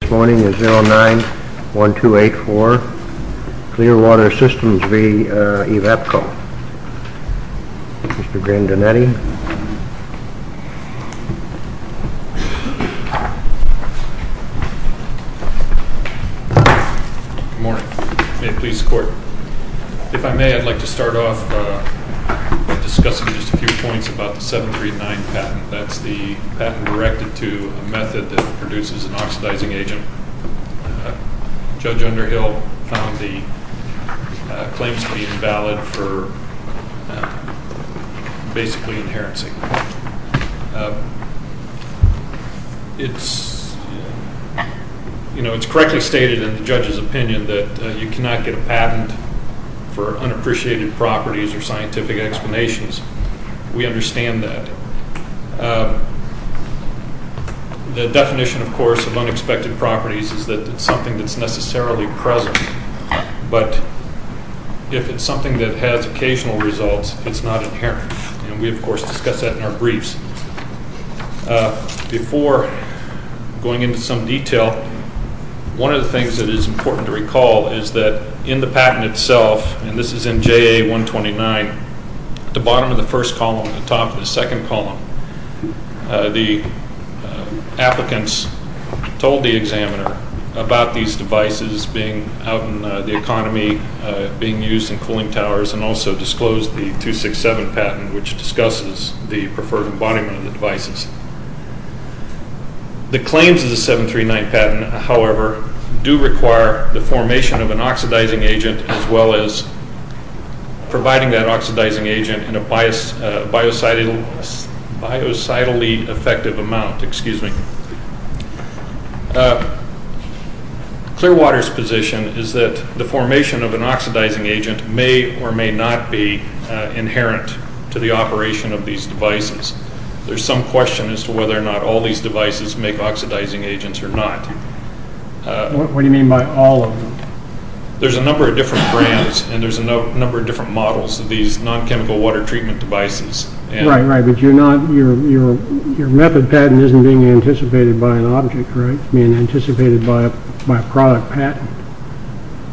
This morning is 09-1284 Clearwater Systems v. Evapco. Mr. Grandinetti. Good morning. May it please the court. If I may, I'd like to start off by discussing just a few points about the 739 patent. That's the patent directed to a method that produces an oxidizing agent. Judge Underhill found the claims to be invalid for basically inherencing. It's correctly stated in the judge's opinion that you cannot get a patent for unappreciated properties or scientific explanations. We understand that. The definition, of course, of unexpected properties is that it's something that's necessarily present, but if it's something that has occasional results, it's not inherent. And we, of course, discuss that in our briefs. Before going into some detail, one of the things that is important to recall is that in the patent itself, and this is in JA-129, at the bottom of the first column and the top of the second column, the applicants told the examiner about these devices being out in the economy, being used in cooling towers, and also disclosed the 267 patent, which discusses the preferred embodiment of the devices. The claims of the 739 patent, however, do require the formation of an oxidizing agent as well as providing that oxidizing agent in a biocidally effective amount. Clearwater's position is that the formation of an oxidizing agent may or may not be inherent to the operation of these devices. There's some question as to whether or not all these devices make oxidizing agents or not. What do you mean by all of them? There's a number of different brands and there's a number of different models of these non-chemical water treatment devices. Right, right, but your method patent isn't being anticipated by an object, right? It's being anticipated by a product patent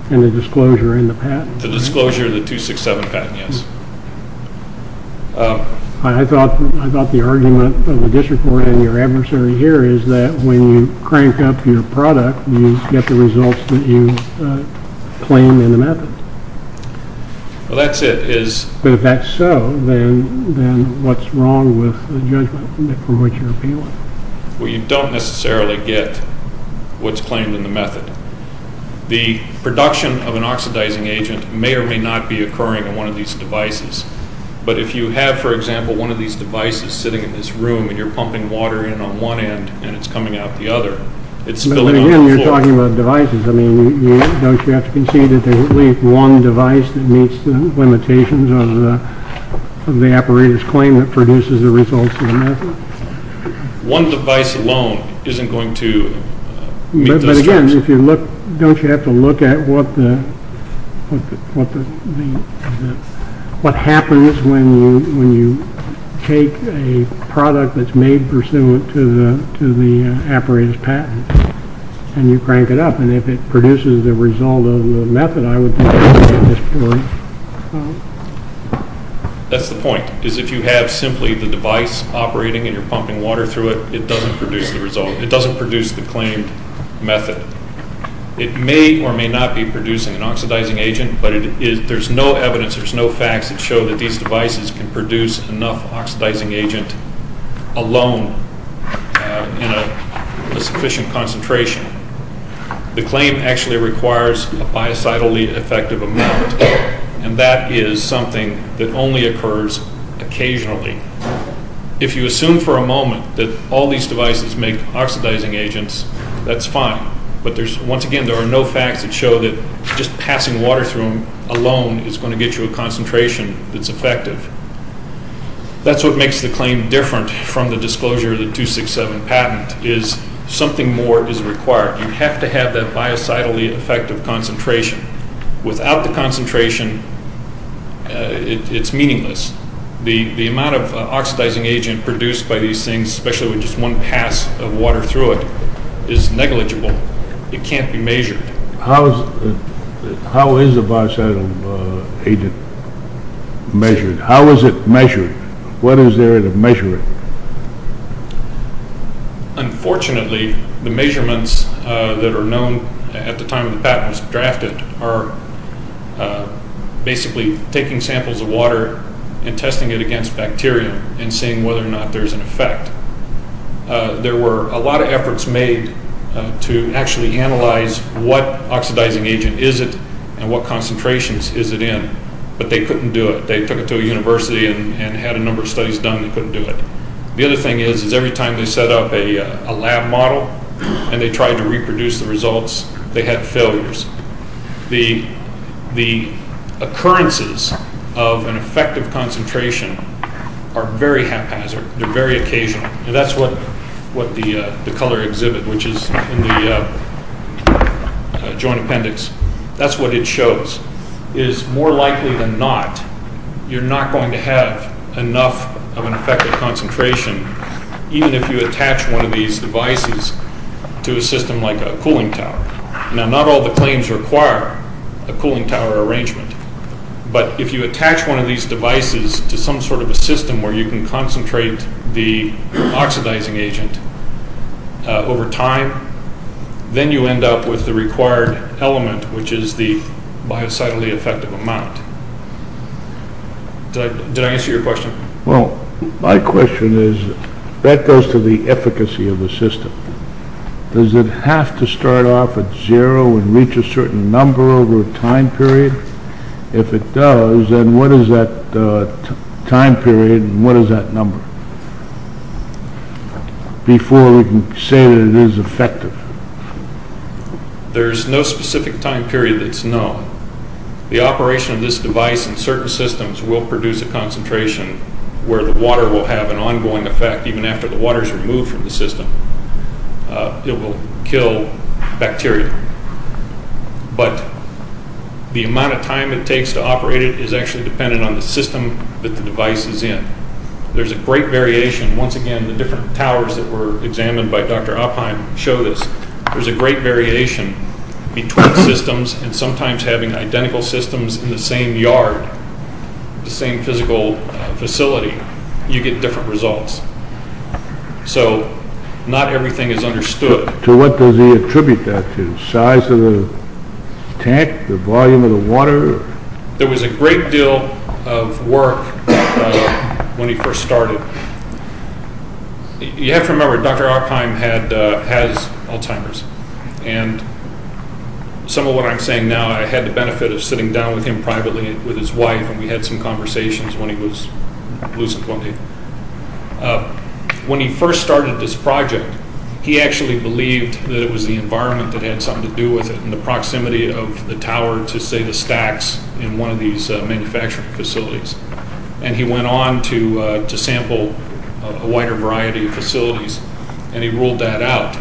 and the disclosure in the patent. The disclosure of the 267 patent, yes. I thought the argument of the district court and your adversary here is that when you crank up your product, you get the results that you claim in the method. Well, that's it. But if that's so, then what's wrong with the judgment from which you're appealing? Well, you don't necessarily get what's claimed in the method. The production of an oxidizing agent may or may not be occurring in one of these devices. But if you have, for example, one of these devices sitting in this room, and you're pumping water in on one end and it's coming out the other, it's spilling on the floor. But again, you're talking about devices. I mean, don't you have to concede that there's at least one device that meets the limitations of the apparatus claim that produces the results of the method? One device alone isn't going to meet those standards. But again, don't you have to look at what happens when you take a product that's made pursuant to the apparatus patent and you crank it up, and if it produces the result of the method, I would think that's a good story. That's the point, is if you have simply the device operating and you're pumping water through it, it doesn't produce the result, it doesn't produce the claimed method. It may or may not be producing an oxidizing agent, but there's no evidence, there's no facts that show that these devices can produce enough oxidizing agent alone in a sufficient concentration. The claim actually requires a biocidally effective amount, and that is something that only occurs occasionally. If you assume for a moment that all these devices make oxidizing agents, that's fine. But once again, there are no facts that show that just passing water through them alone is going to get you a concentration that's effective. That's what makes the claim different from the disclosure of the 267 patent, is something more is required. You have to have that biocidally effective concentration. Without the concentration, it's meaningless. The amount of oxidizing agent produced by these things, especially with just one pass of water through it, is negligible. It can't be measured. How is the biocidal agent measured? How is it measured? What is there to measure it? Unfortunately, the measurements that are known at the time the patent was drafted are basically taking samples of water and testing it against bacteria and seeing whether or not there's an effect. There were a lot of efforts made to actually analyze what oxidizing agent is it and what concentrations is it in, but they couldn't do it. They took it to a university and had a number of studies done that couldn't do it. The other thing is, is every time they set up a lab model and they tried to reproduce the results, they had failures. The occurrences of an effective concentration are very haphazard. They're very occasional, and that's what the color exhibit, which is in the joint appendix, that's what it shows. It is more likely than not you're not going to have enough of an effective concentration even if you attach one of these devices to a system like a cooling tower. Now, not all the claims require a cooling tower arrangement, but if you attach one of these devices to some sort of a system where you can concentrate the oxidizing agent over time, then you end up with the required element, which is the biocidally effective amount. Did I answer your question? Well, my question is, that goes to the efficacy of the system. Does it have to start off at zero and reach a certain number over a time period? If it does, then what is that time period and what is that number? Before we can say that it is effective. There's no specific time period that's known. The operation of this device in certain systems will produce a concentration where the water will have an ongoing effect even after the water is removed from the system. It will kill bacteria. But the amount of time it takes to operate it is actually dependent on the system that the device is in. There's a great variation. Once again, the different towers that were examined by Dr. Oppheim show this. There's a great variation between systems, and sometimes having identical systems in the same yard, the same physical facility, you get different results. So not everything is understood. So what does he attribute that to? The size of the tank? The volume of the water? There was a great deal of work when he first started. You have to remember, Dr. Oppheim has Alzheimer's. Some of what I'm saying now, I had the benefit of sitting down with him privately with his wife, and we had some conversations when he was lucid one day. When he first started this project, he actually believed that it was the environment that had something to do with it, and the proximity of the tower to, say, the stacks in one of these manufacturing facilities. And he went on to sample a wider variety of facilities, and he ruled that out.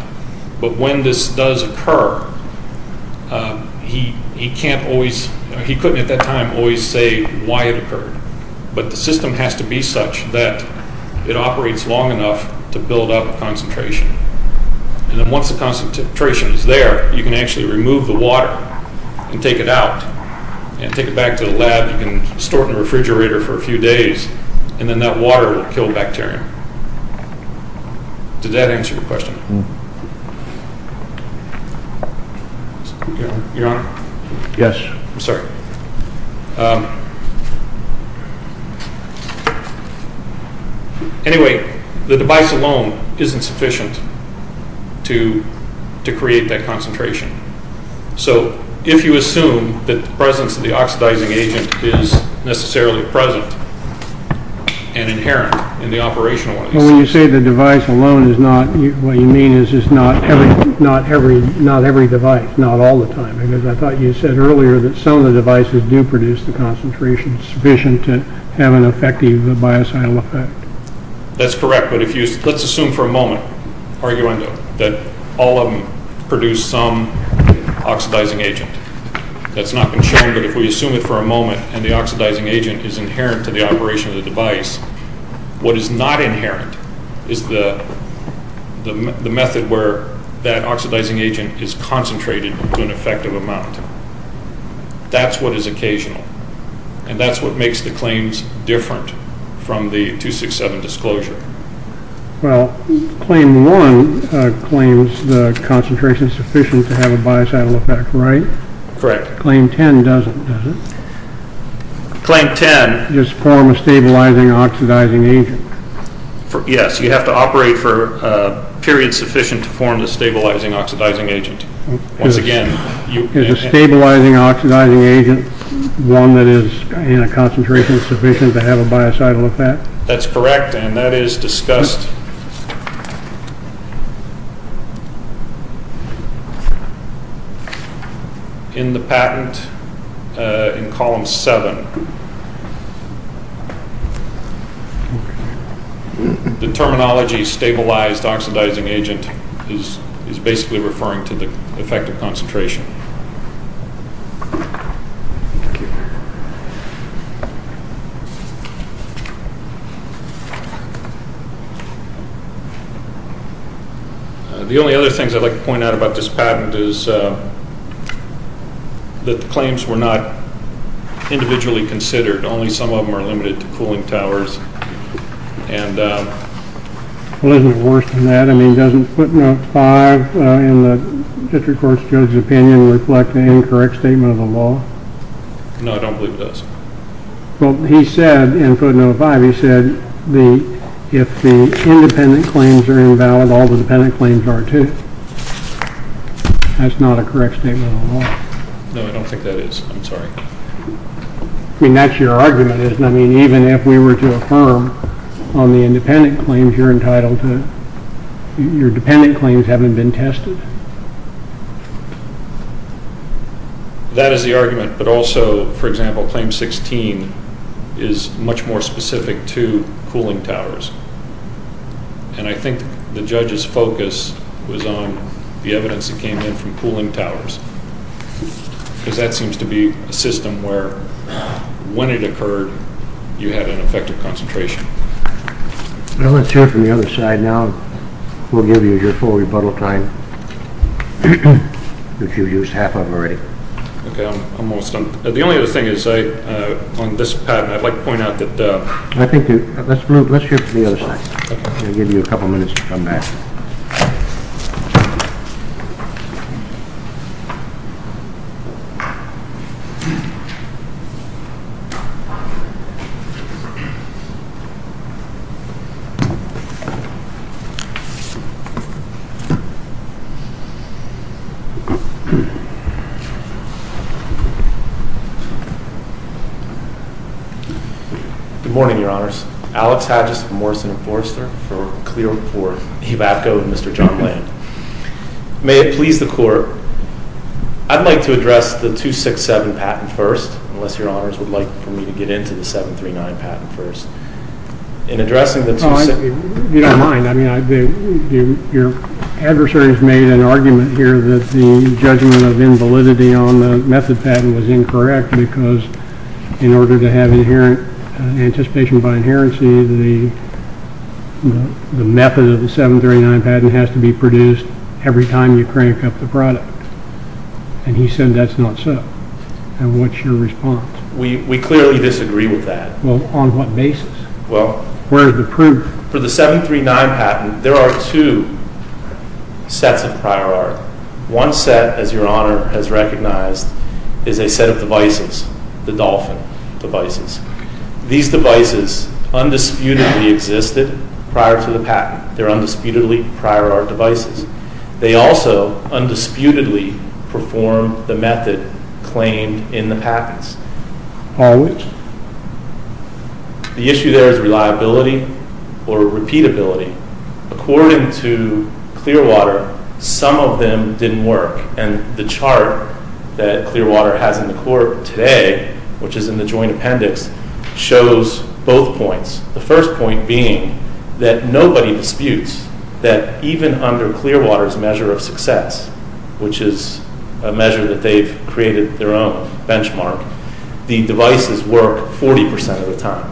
But when this does occur, he couldn't at that time always say why it occurred. But the system has to be such that it operates long enough to build up a concentration. And then once the concentration is there, you can actually remove the water and take it out and take it back to the lab. You can store it in the refrigerator for a few days, and then that water will kill bacteria. Does that answer your question? Your Honor? Yes. I'm sorry. Anyway, the device alone isn't sufficient to create that concentration. So if you assume that the presence of the oxidizing agent is necessarily present and inherent in the operational— Well, when you say the device alone is not, what you mean is it's not every device, not all the time. I thought you said earlier that some of the devices do produce the concentration sufficient to have an effective biocidal effect. That's correct. Let's assume for a moment, arguendo, that all of them produce some oxidizing agent. That's not been shown, but if we assume it for a moment and the oxidizing agent is inherent to the operation of the device, what is not inherent is the method where that oxidizing agent is concentrated to an effective amount. That's what is occasional. And that's what makes the claims different from the 267 disclosure. Well, Claim 1 claims the concentration is sufficient to have a biocidal effect, right? Correct. Claim 10 doesn't, does it? Claim 10— Just form a stabilizing oxidizing agent. Yes, you have to operate for a period sufficient to form the stabilizing oxidizing agent. Is a stabilizing oxidizing agent one that is in a concentration sufficient to have a biocidal effect? That's correct, and that is discussed in the patent in Column 7. The terminology, stabilized oxidizing agent, is basically referring to the effect of concentration. The only other things I'd like to point out about this patent is that the claims were not individually determined. Only some of them are limited to cooling towers. Well, isn't it worse than that? I mean, doesn't footnote 5 in the district court's judge's opinion reflect an incorrect statement of the law? No, I don't believe it does. Well, he said in footnote 5, he said if the independent claims are invalid, all the dependent claims are too. That's not a correct statement of the law. No, I don't think that is. I'm sorry. I mean, that's your argument, isn't it? I mean, even if we were to affirm on the independent claims you're entitled to, your dependent claims haven't been tested? That is the argument, but also, for example, Claim 16 is much more specific to cooling towers. And I think the judge's focus was on the evidence that came in from cooling towers, because that seems to be a system where when it occurred, you had an effective concentration. Well, let's hear from the other side now. We'll give you your full rebuttal time, which you've used half of already. Okay, I'm almost done. The only other thing is, on this patent, I'd like to point out that— Let's hear from the other side. I'll give you a couple minutes to come back. Good morning, Your Honors. Alex Hadgis of Morrison & Forrester for a clear report. Hivacko with Mr. John Land. May it please the Court, I'd like to address the 267 patent first, unless Your Honors would like for me to get into the 739 patent first. You don't mind. I mean, your adversary has made an argument here that the judgment of invalidity on the method patent was incorrect because in order to have anticipation by inherency, the method of the 739 patent has to be produced every time you crank up the product. And he said that's not so. And what's your response? We clearly disagree with that. Well, on what basis? Well— Where is the proof? For the 739 patent, there are two sets of prior art. One set, as Your Honor has recognized, is a set of devices, the Dolphin devices. These devices undisputedly existed prior to the patent. They're undisputedly prior art devices. They also undisputedly perform the method claimed in the patents. On which? The issue there is reliability or repeatability. According to Clearwater, some of them didn't work. And the chart that Clearwater has in the court today, which is in the joint appendix, shows both points. The first point being that nobody disputes that even under Clearwater's measure of success, which is a measure that they've created their own benchmark, the devices work 40% of the time.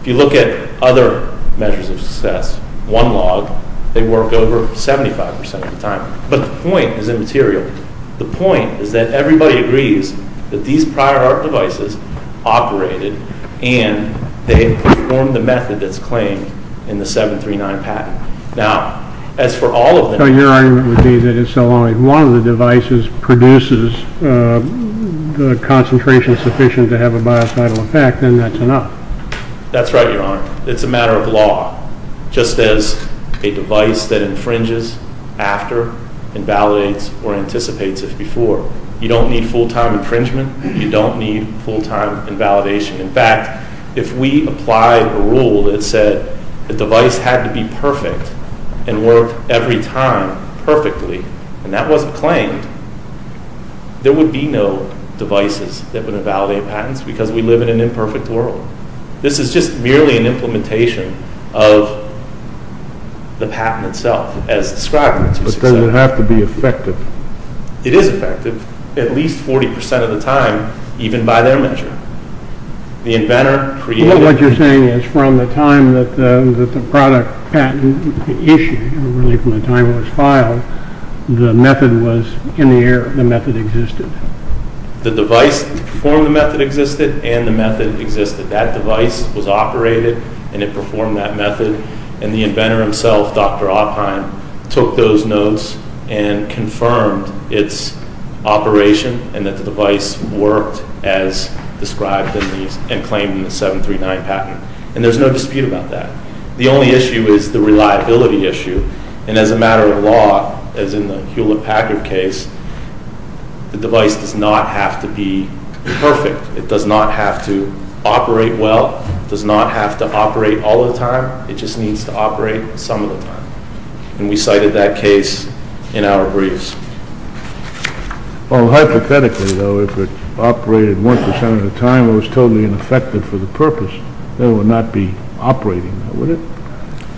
If you look at other measures of success, one log, they work over 75% of the time. But the point is immaterial. The point is that everybody agrees that these prior art devices operated and they performed the method that's claimed in the 739 patent. Now, as for all of them— So your argument would be that it's only one of the devices produces the concentration sufficient to have a biocidal effect, then that's enough. That's right, Your Honor. It's a matter of law. Just as a device that infringes after invalidates or anticipates if before. You don't need full-time infringement. You don't need full-time invalidation. In fact, if we apply a rule that said the device had to be perfect and work every time perfectly, and that wasn't claimed, there would be no devices that would invalidate patents because we live in an imperfect world. This is just merely an implementation of the patent itself as described. But then it would have to be effective. It is effective at least 40% of the time, even by their measure. The inventor created— What you're saying is from the time that the product patent issue, really from the time it was filed, the method was in the air. The method existed. The device to perform the method existed, and the method existed. That device was operated, and it performed that method. And the inventor himself, Dr. Oppheim, took those notes and confirmed its operation and that the device worked as described and claimed in the 739 patent. And there's no dispute about that. The only issue is the reliability issue. And as a matter of law, as in the Hewlett-Packard case, the device does not have to be perfect. It does not have to operate well. It does not have to operate all the time. It just needs to operate some of the time. And we cited that case in our briefs. Well, hypothetically, though, if it operated 1% of the time and it was totally ineffective for the purpose, then it would not be operating, would it?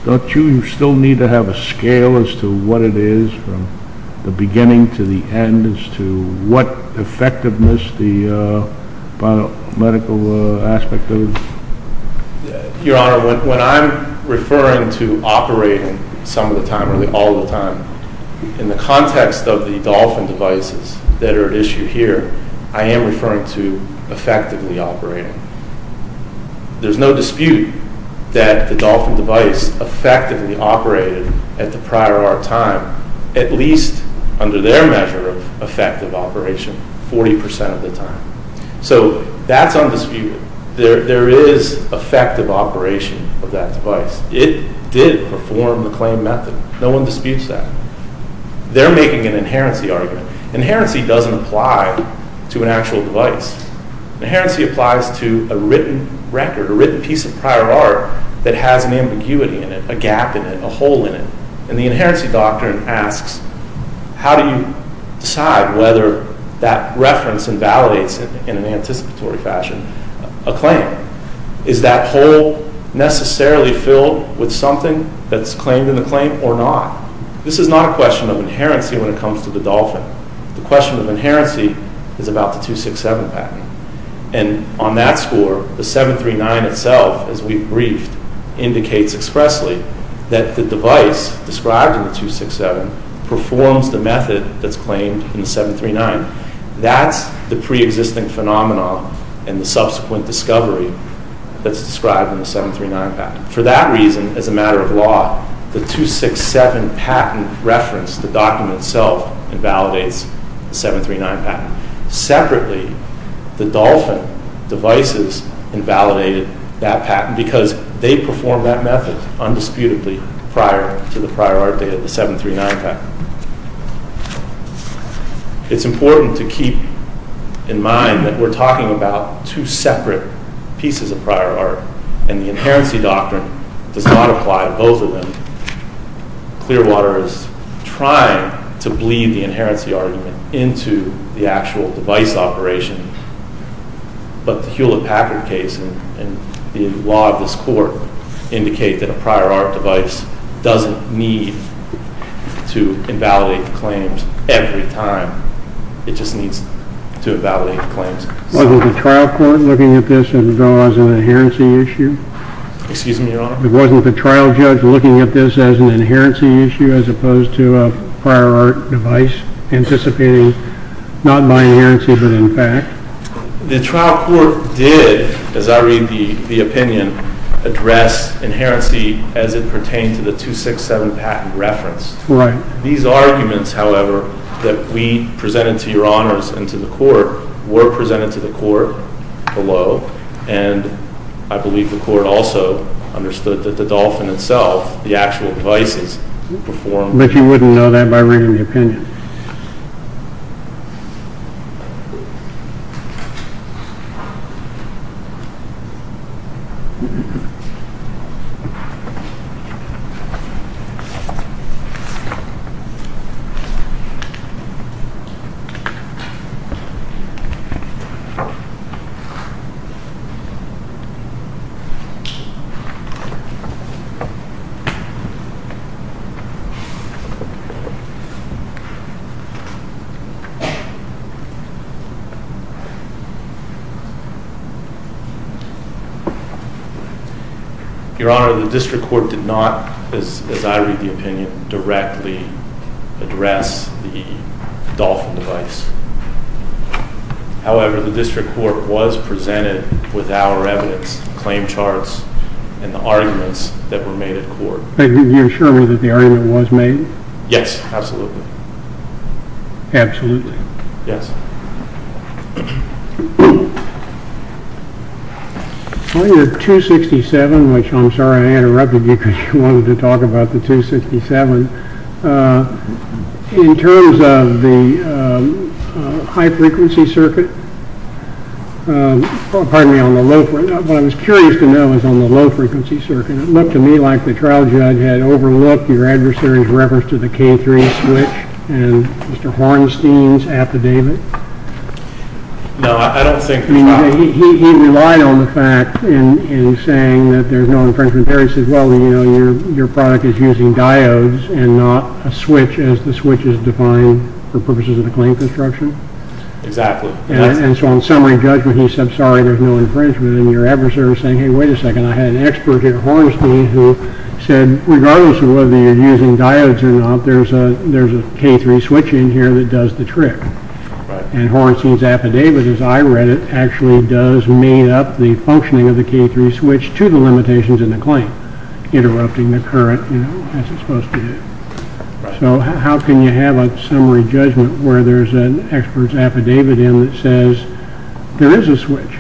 Don't you still need to have a scale as to what it is from the beginning to the end as to what effectiveness the biomedical aspect of it is? Your Honor, when I'm referring to operating some of the time or all the time, in the context of the Dolphin devices that are at issue here, I am referring to effectively operating. There's no dispute that the Dolphin device effectively operated at the prior hour time, at least under their measure of effective operation, 40% of the time. So that's undisputed. There is effective operation of that device. It did perform the claimed method. No one disputes that. They're making an inherency argument. Inherency doesn't apply to an actual device. Inherency applies to a written record, a written piece of prior art, that has an ambiguity in it, a gap in it, a hole in it. And the Inherency Doctrine asks, how do you decide whether that reference invalidates, in an anticipatory fashion, a claim? Is that hole necessarily filled with something that's claimed in the claim or not? This is not a question of inherency when it comes to the Dolphin. The question of inherency is about the 267 patent. And on that score, the 739 itself, as we've briefed, indicates expressly that the device described in the 267 performs the method that's claimed in the 739. That's the preexisting phenomenon and the subsequent discovery that's described in the 739 patent. For that reason, as a matter of law, the 267 patent reference, the document itself, invalidates the 739 patent. Separately, the Dolphin devices invalidated that patent because they performed that method undisputably prior to the prior art data, the 739 patent. It's important to keep in mind that we're talking about two separate pieces of prior art, and the inherency doctrine does not apply to both of them. Clearwater is trying to bleed the inherency argument into the actual device operation, but the Hewlett-Packard case and the law of this court indicate that a prior art device doesn't need to invalidate claims every time. It just needs to invalidate claims. Wasn't the trial court looking at this as an inherency issue? Excuse me, Your Honor. Wasn't the trial judge looking at this as an inherency issue as opposed to a prior art device anticipating not by inherency but in fact? The trial court did, as I read the opinion, address inherency as it pertained to the 267 patent reference. These arguments, however, that we presented to Your Honors and to the court were presented to the court below, and I believe the court also understood that the Dolphin itself, the actual devices performed. But you wouldn't know that by reading the opinion. Your Honor, the district court did not, as I read the opinion, directly address the Dolphin device. However, the district court was presented with our evidence, claim charts, and the arguments that were made at court. Are you sure that the argument was made? Yes, absolutely. Absolutely? Yes. Well, your 267, which I'm sorry I interrupted you because you wanted to talk about the 267. In terms of the high-frequency circuit, pardon me, on the low-frequency, what I was curious to know is on the low-frequency circuit, it looked to me like the trial judge had overlooked your adversary's reference to the K3 switch and Mr. Hornstein's affidavit. No, I don't think so. He relied on the fact in saying that there's no infringement there. He said, well, you know, your product is using diodes and not a switch as the switch is defined for purposes of the claim construction. Exactly. And so on summary judgment, he said, sorry, there's no infringement. And your adversary was saying, hey, wait a second. And I had an expert here, Hornstein, who said, regardless of whether you're using diodes or not, there's a K3 switch in here that does the trick. And Hornstein's affidavit, as I read it, actually does make up the functioning of the K3 switch to the limitations in the claim, interrupting the current as it's supposed to do. So how can you have a summary judgment where there's an expert's affidavit in that says there is a switch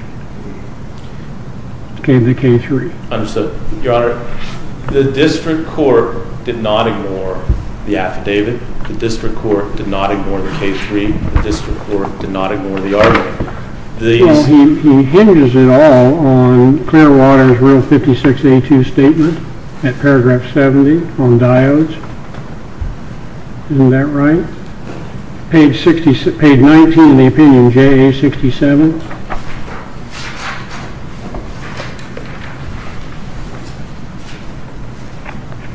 in the K3? Your Honor, the district court did not ignore the affidavit. The district court did not ignore the K3. The district court did not ignore the argument. So he hinges it all on Clearwater's Rule 56A2 statement at paragraph 70 on diodes. Isn't that right? Page 19 of the opinion, JA67.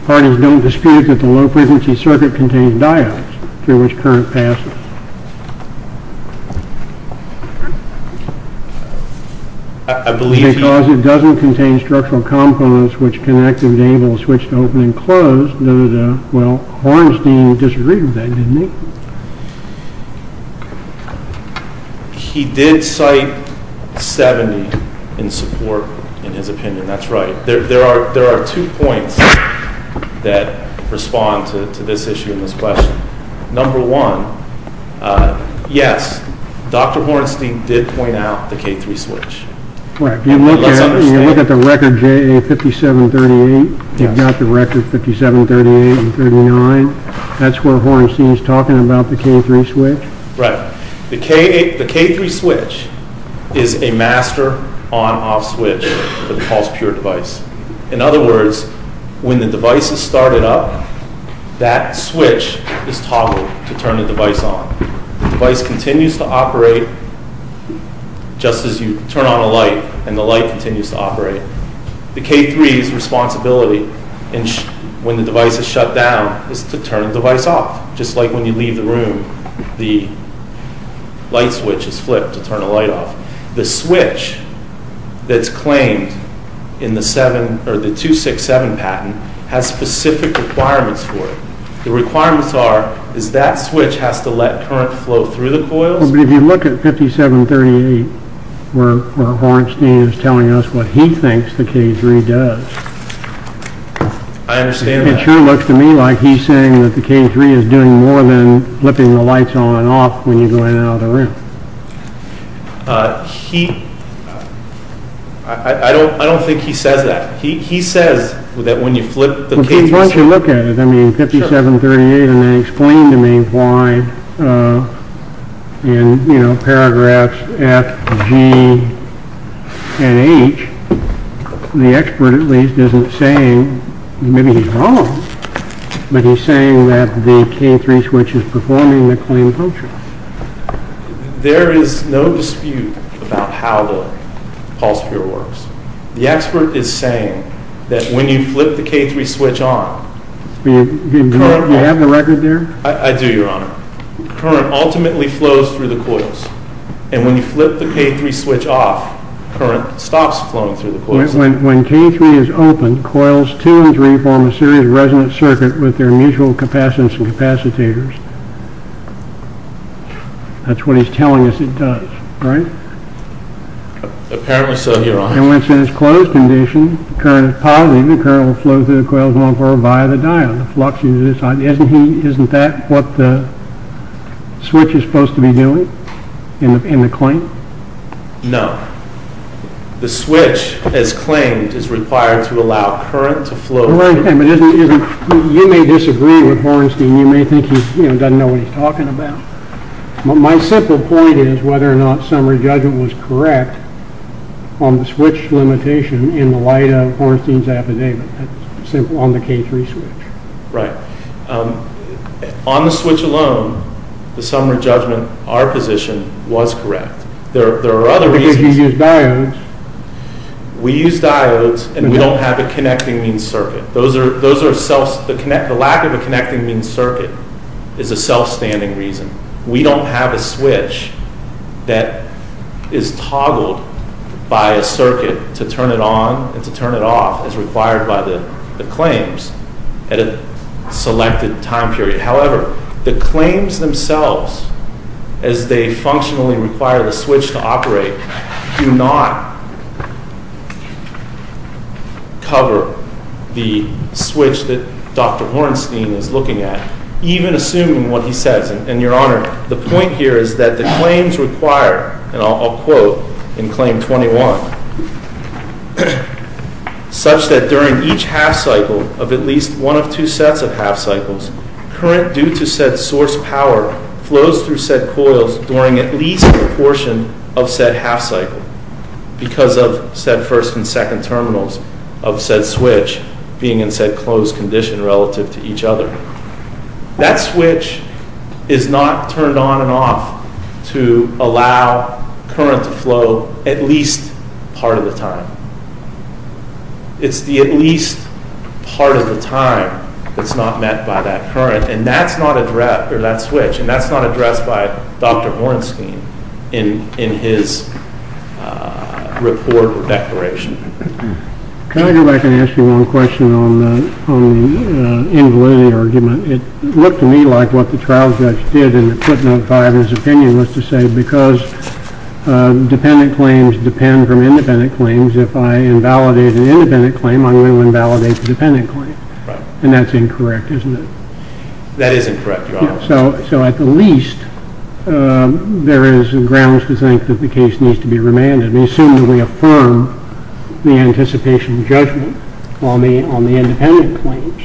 Parties don't dispute that the low-frequency circuit contains diodes through which current passes. Because it doesn't contain structural components which connect and enable a switch to open and close. Well, Hornstein disagreed with that, didn't he? He did cite 70 in support in his opinion. That's right. There are two points that respond to this issue and this question. Number one, yes, Dr. Hornstein did point out the K3 switch. If you look at the record JA5738, you've got the record 5738 and 39. That's where Hornstein is talking about the K3 switch. Right. The K3 switch is a master on-off switch for the pulse-pure device. In other words, when the device is started up, that switch is toggled to turn the device on. The device continues to operate just as you turn on a light and the light continues to operate. The K3's responsibility when the device is shut down is to turn the device off. Just like when you leave the room, the light switch is flipped to turn the light off. The switch that's claimed in the 267 patent has specific requirements for it. The requirements are that switch has to let current flow through the coils. If you look at 5738, where Hornstein is telling us what he thinks the K3 does, it sure looks to me like he's saying that the K3 is doing more than flipping the lights on and off when you go in and out of the room. I don't think he says that. He says that when you flip the K3 switch... Why don't you look at it, 5738, and then explain to me why in paragraphs F, G, and H, the expert at least isn't saying, maybe he's wrong, but he's saying that the K3 switch is performing the claimed function. There is no dispute about how the pulse-pure works. The expert is saying that when you flip the K3 switch on... Do you have the record there? I do, Your Honor. Current ultimately flows through the coils. And when you flip the K3 switch off, current stops flowing through the coils. When K3 is open, coils 2 and 3 form a series resonant circuit with their mutual capacitance and capacitators. That's what he's telling us it does, right? Apparently so, Your Honor. And when it's in its closed condition, the current is positive, and current will flow through the coils and on forward via the diode. Isn't that what the switch is supposed to be doing in the claim? No. The switch, as claimed, is required to allow current to flow through... You may disagree with Hornstein. You may think he doesn't know what he's talking about. My simple point is whether or not summary judgment was correct on the switch limitation in the light of Hornstein's affidavit on the K3 switch. Right. On the switch alone, the summary judgment, our position, was correct. There are other reasons... Because you used diodes. We used diodes, and we don't have a connecting mean circuit. The lack of a connecting mean circuit is a self-standing reason. We don't have a switch that is toggled by a circuit to turn it on and to turn it off as required by the claims at a selected time period. However, the claims themselves, as they functionally require the switch to operate, do not cover the switch that Dr. Hornstein is looking at, even assuming what he says. And, Your Honor, the point here is that the claims require, and I'll quote in Claim 21, such that during each half cycle of at least one of two sets of half cycles, current due to said source power flows through said coils during at least a portion of said half cycle, because of said first and second terminals of said switch being in said closed condition relative to each other. That switch is not turned on and off to allow current to flow at least part of the time. It's the at least part of the time that's not met by that current. And that's not addressed by Dr. Hornstein in his report or declaration. Can I go back and ask you one question on the invalidity argument? It looked to me like what the trial judge did in the footnote 5 in his opinion was to say, because dependent claims depend from independent claims, if I invalidate an independent claim, I'm going to invalidate the dependent claim. And that's incorrect, isn't it? That is incorrect, Your Honor. So at the least, there is grounds to think that the case needs to be remanded. We assume that we affirm the anticipation of judgment on the independent claims.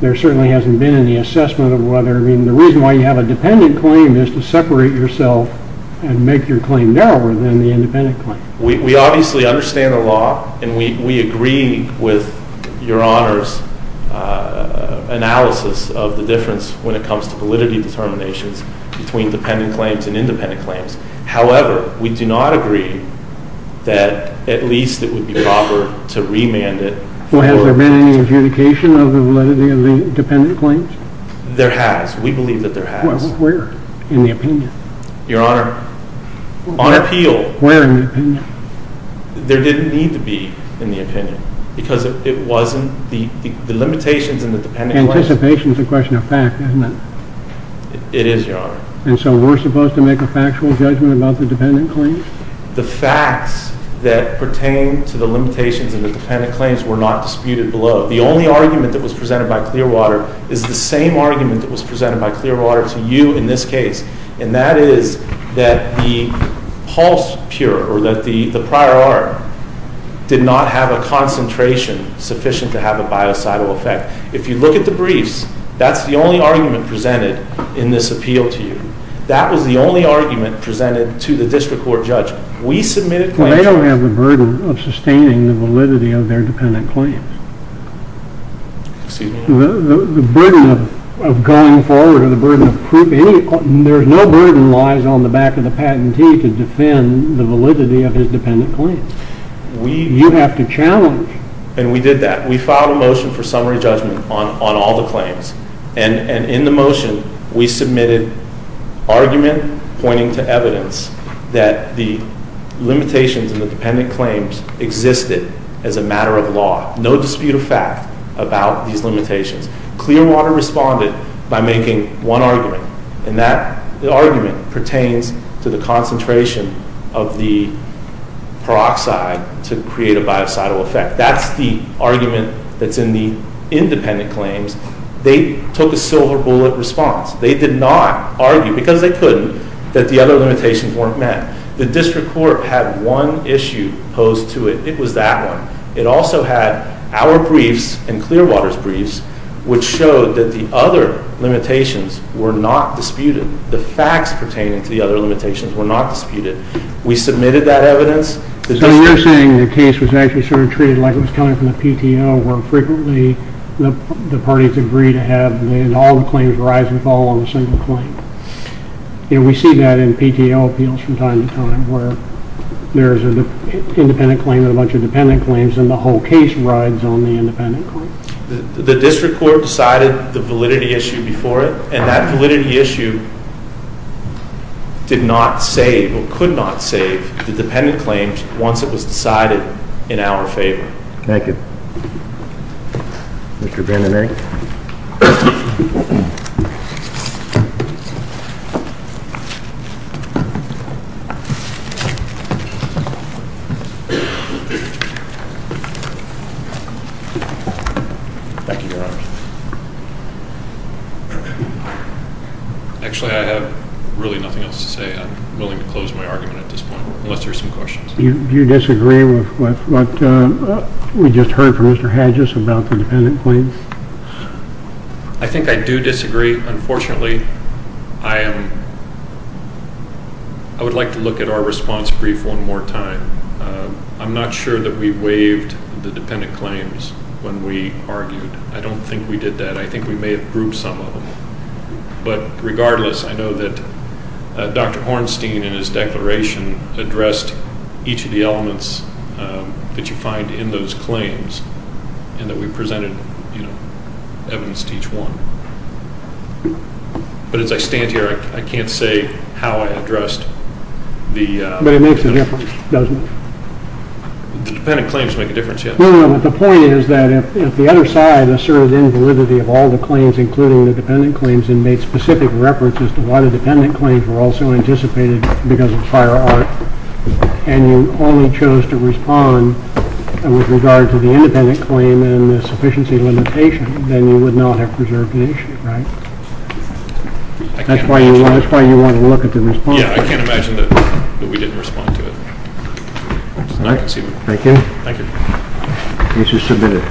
There certainly hasn't been any assessment of whether, I mean, the reason why you have a dependent claim is to separate yourself and make your claim narrower than the independent claim. We obviously understand the law, and we agree with Your Honor's analysis of the difference when it comes to validity determinations between dependent claims and independent claims. However, we do not agree that at least it would be proper to remand it. Well, has there been any adjudication of the validity of the dependent claims? There has. We believe that there has. Where? In the opinion? Your Honor, on appeal. Where in the opinion? There didn't need to be in the opinion, because it wasn't the limitations in the dependent claims. Anticipation is a question of fact, isn't it? It is, Your Honor. And so we're supposed to make a factual judgment about the dependent claims? The facts that pertain to the limitations in the dependent claims were not disputed below. The only argument that was presented by Clearwater is the same argument that was presented by Clearwater to you in this case, and that is that the pulse purer, or that the prior art, did not have a concentration sufficient to have a biocidal effect. If you look at the briefs, that's the only argument presented in this appeal to you. That was the only argument presented to the district court judge. We submitted claims... But they don't have the burden of sustaining the validity of their dependent claims. Excuse me? The burden of going forward, or the burden of... There's no burden lies on the back of the patentee to defend the validity of his dependent claims. We... You have to challenge. And we did that. We filed a motion for summary judgment on all the claims. And in the motion, we submitted argument pointing to evidence that the limitations in the dependent claims existed as a matter of law. No dispute of fact about these limitations. Clearwater responded by making one argument, and that argument pertains to the concentration of the peroxide to create a biocidal effect. That's the argument that's in the independent claims. They took a silver bullet response. They did not argue, because they couldn't, that the other limitations weren't met. The district court had one issue posed to it. It was that one. It also had our briefs and Clearwater's briefs, which showed that the other limitations were not disputed. The facts pertaining to the other limitations were not disputed. We submitted that evidence. So you're saying the case was actually sort of treated like it was coming from the PTO, where frequently the parties agree to have all the claims rise with all on a single claim. And we see that in PTO appeals from time to time, where there's an independent claim and a bunch of dependent claims, and the whole case rides on the independent claim. The district court decided the validity issue before it, and that validity issue did not save, or could not save, the dependent claims once it was decided in our favor. Thank you. Mr. Vanden Heg? Thank you, Your Honor. Actually, I have really nothing else to say. I'm willing to close my argument at this point, unless there are some questions. Do you disagree with what we just heard from Mr. Hedges about the dependent claims? I think I do disagree. Unfortunately, I would like to look at our response brief one more time. I'm not sure that we waived the dependent claims when we argued. I don't think we did that. I think we may have grouped some of them. But regardless, I know that Dr. Hornstein, in his declaration, addressed each of the elements that you find in those claims, and that we presented evidence to each one. But as I stand here, I can't say how I addressed the— But it makes a difference, doesn't it? The dependent claims make a difference, yes. No, no, no. The point is that if the other side asserted invalidity of all the claims, including the dependent claims, and made specific references to why the dependent claims were also anticipated because of fire art, and you only chose to respond with regard to the independent claim and the sufficiency limitation, then you would not have preserved the issue, right? That's why you want to look at the response. Yeah, I can't imagine that we didn't respond to it. Thank you. Thank you. Case is submitted.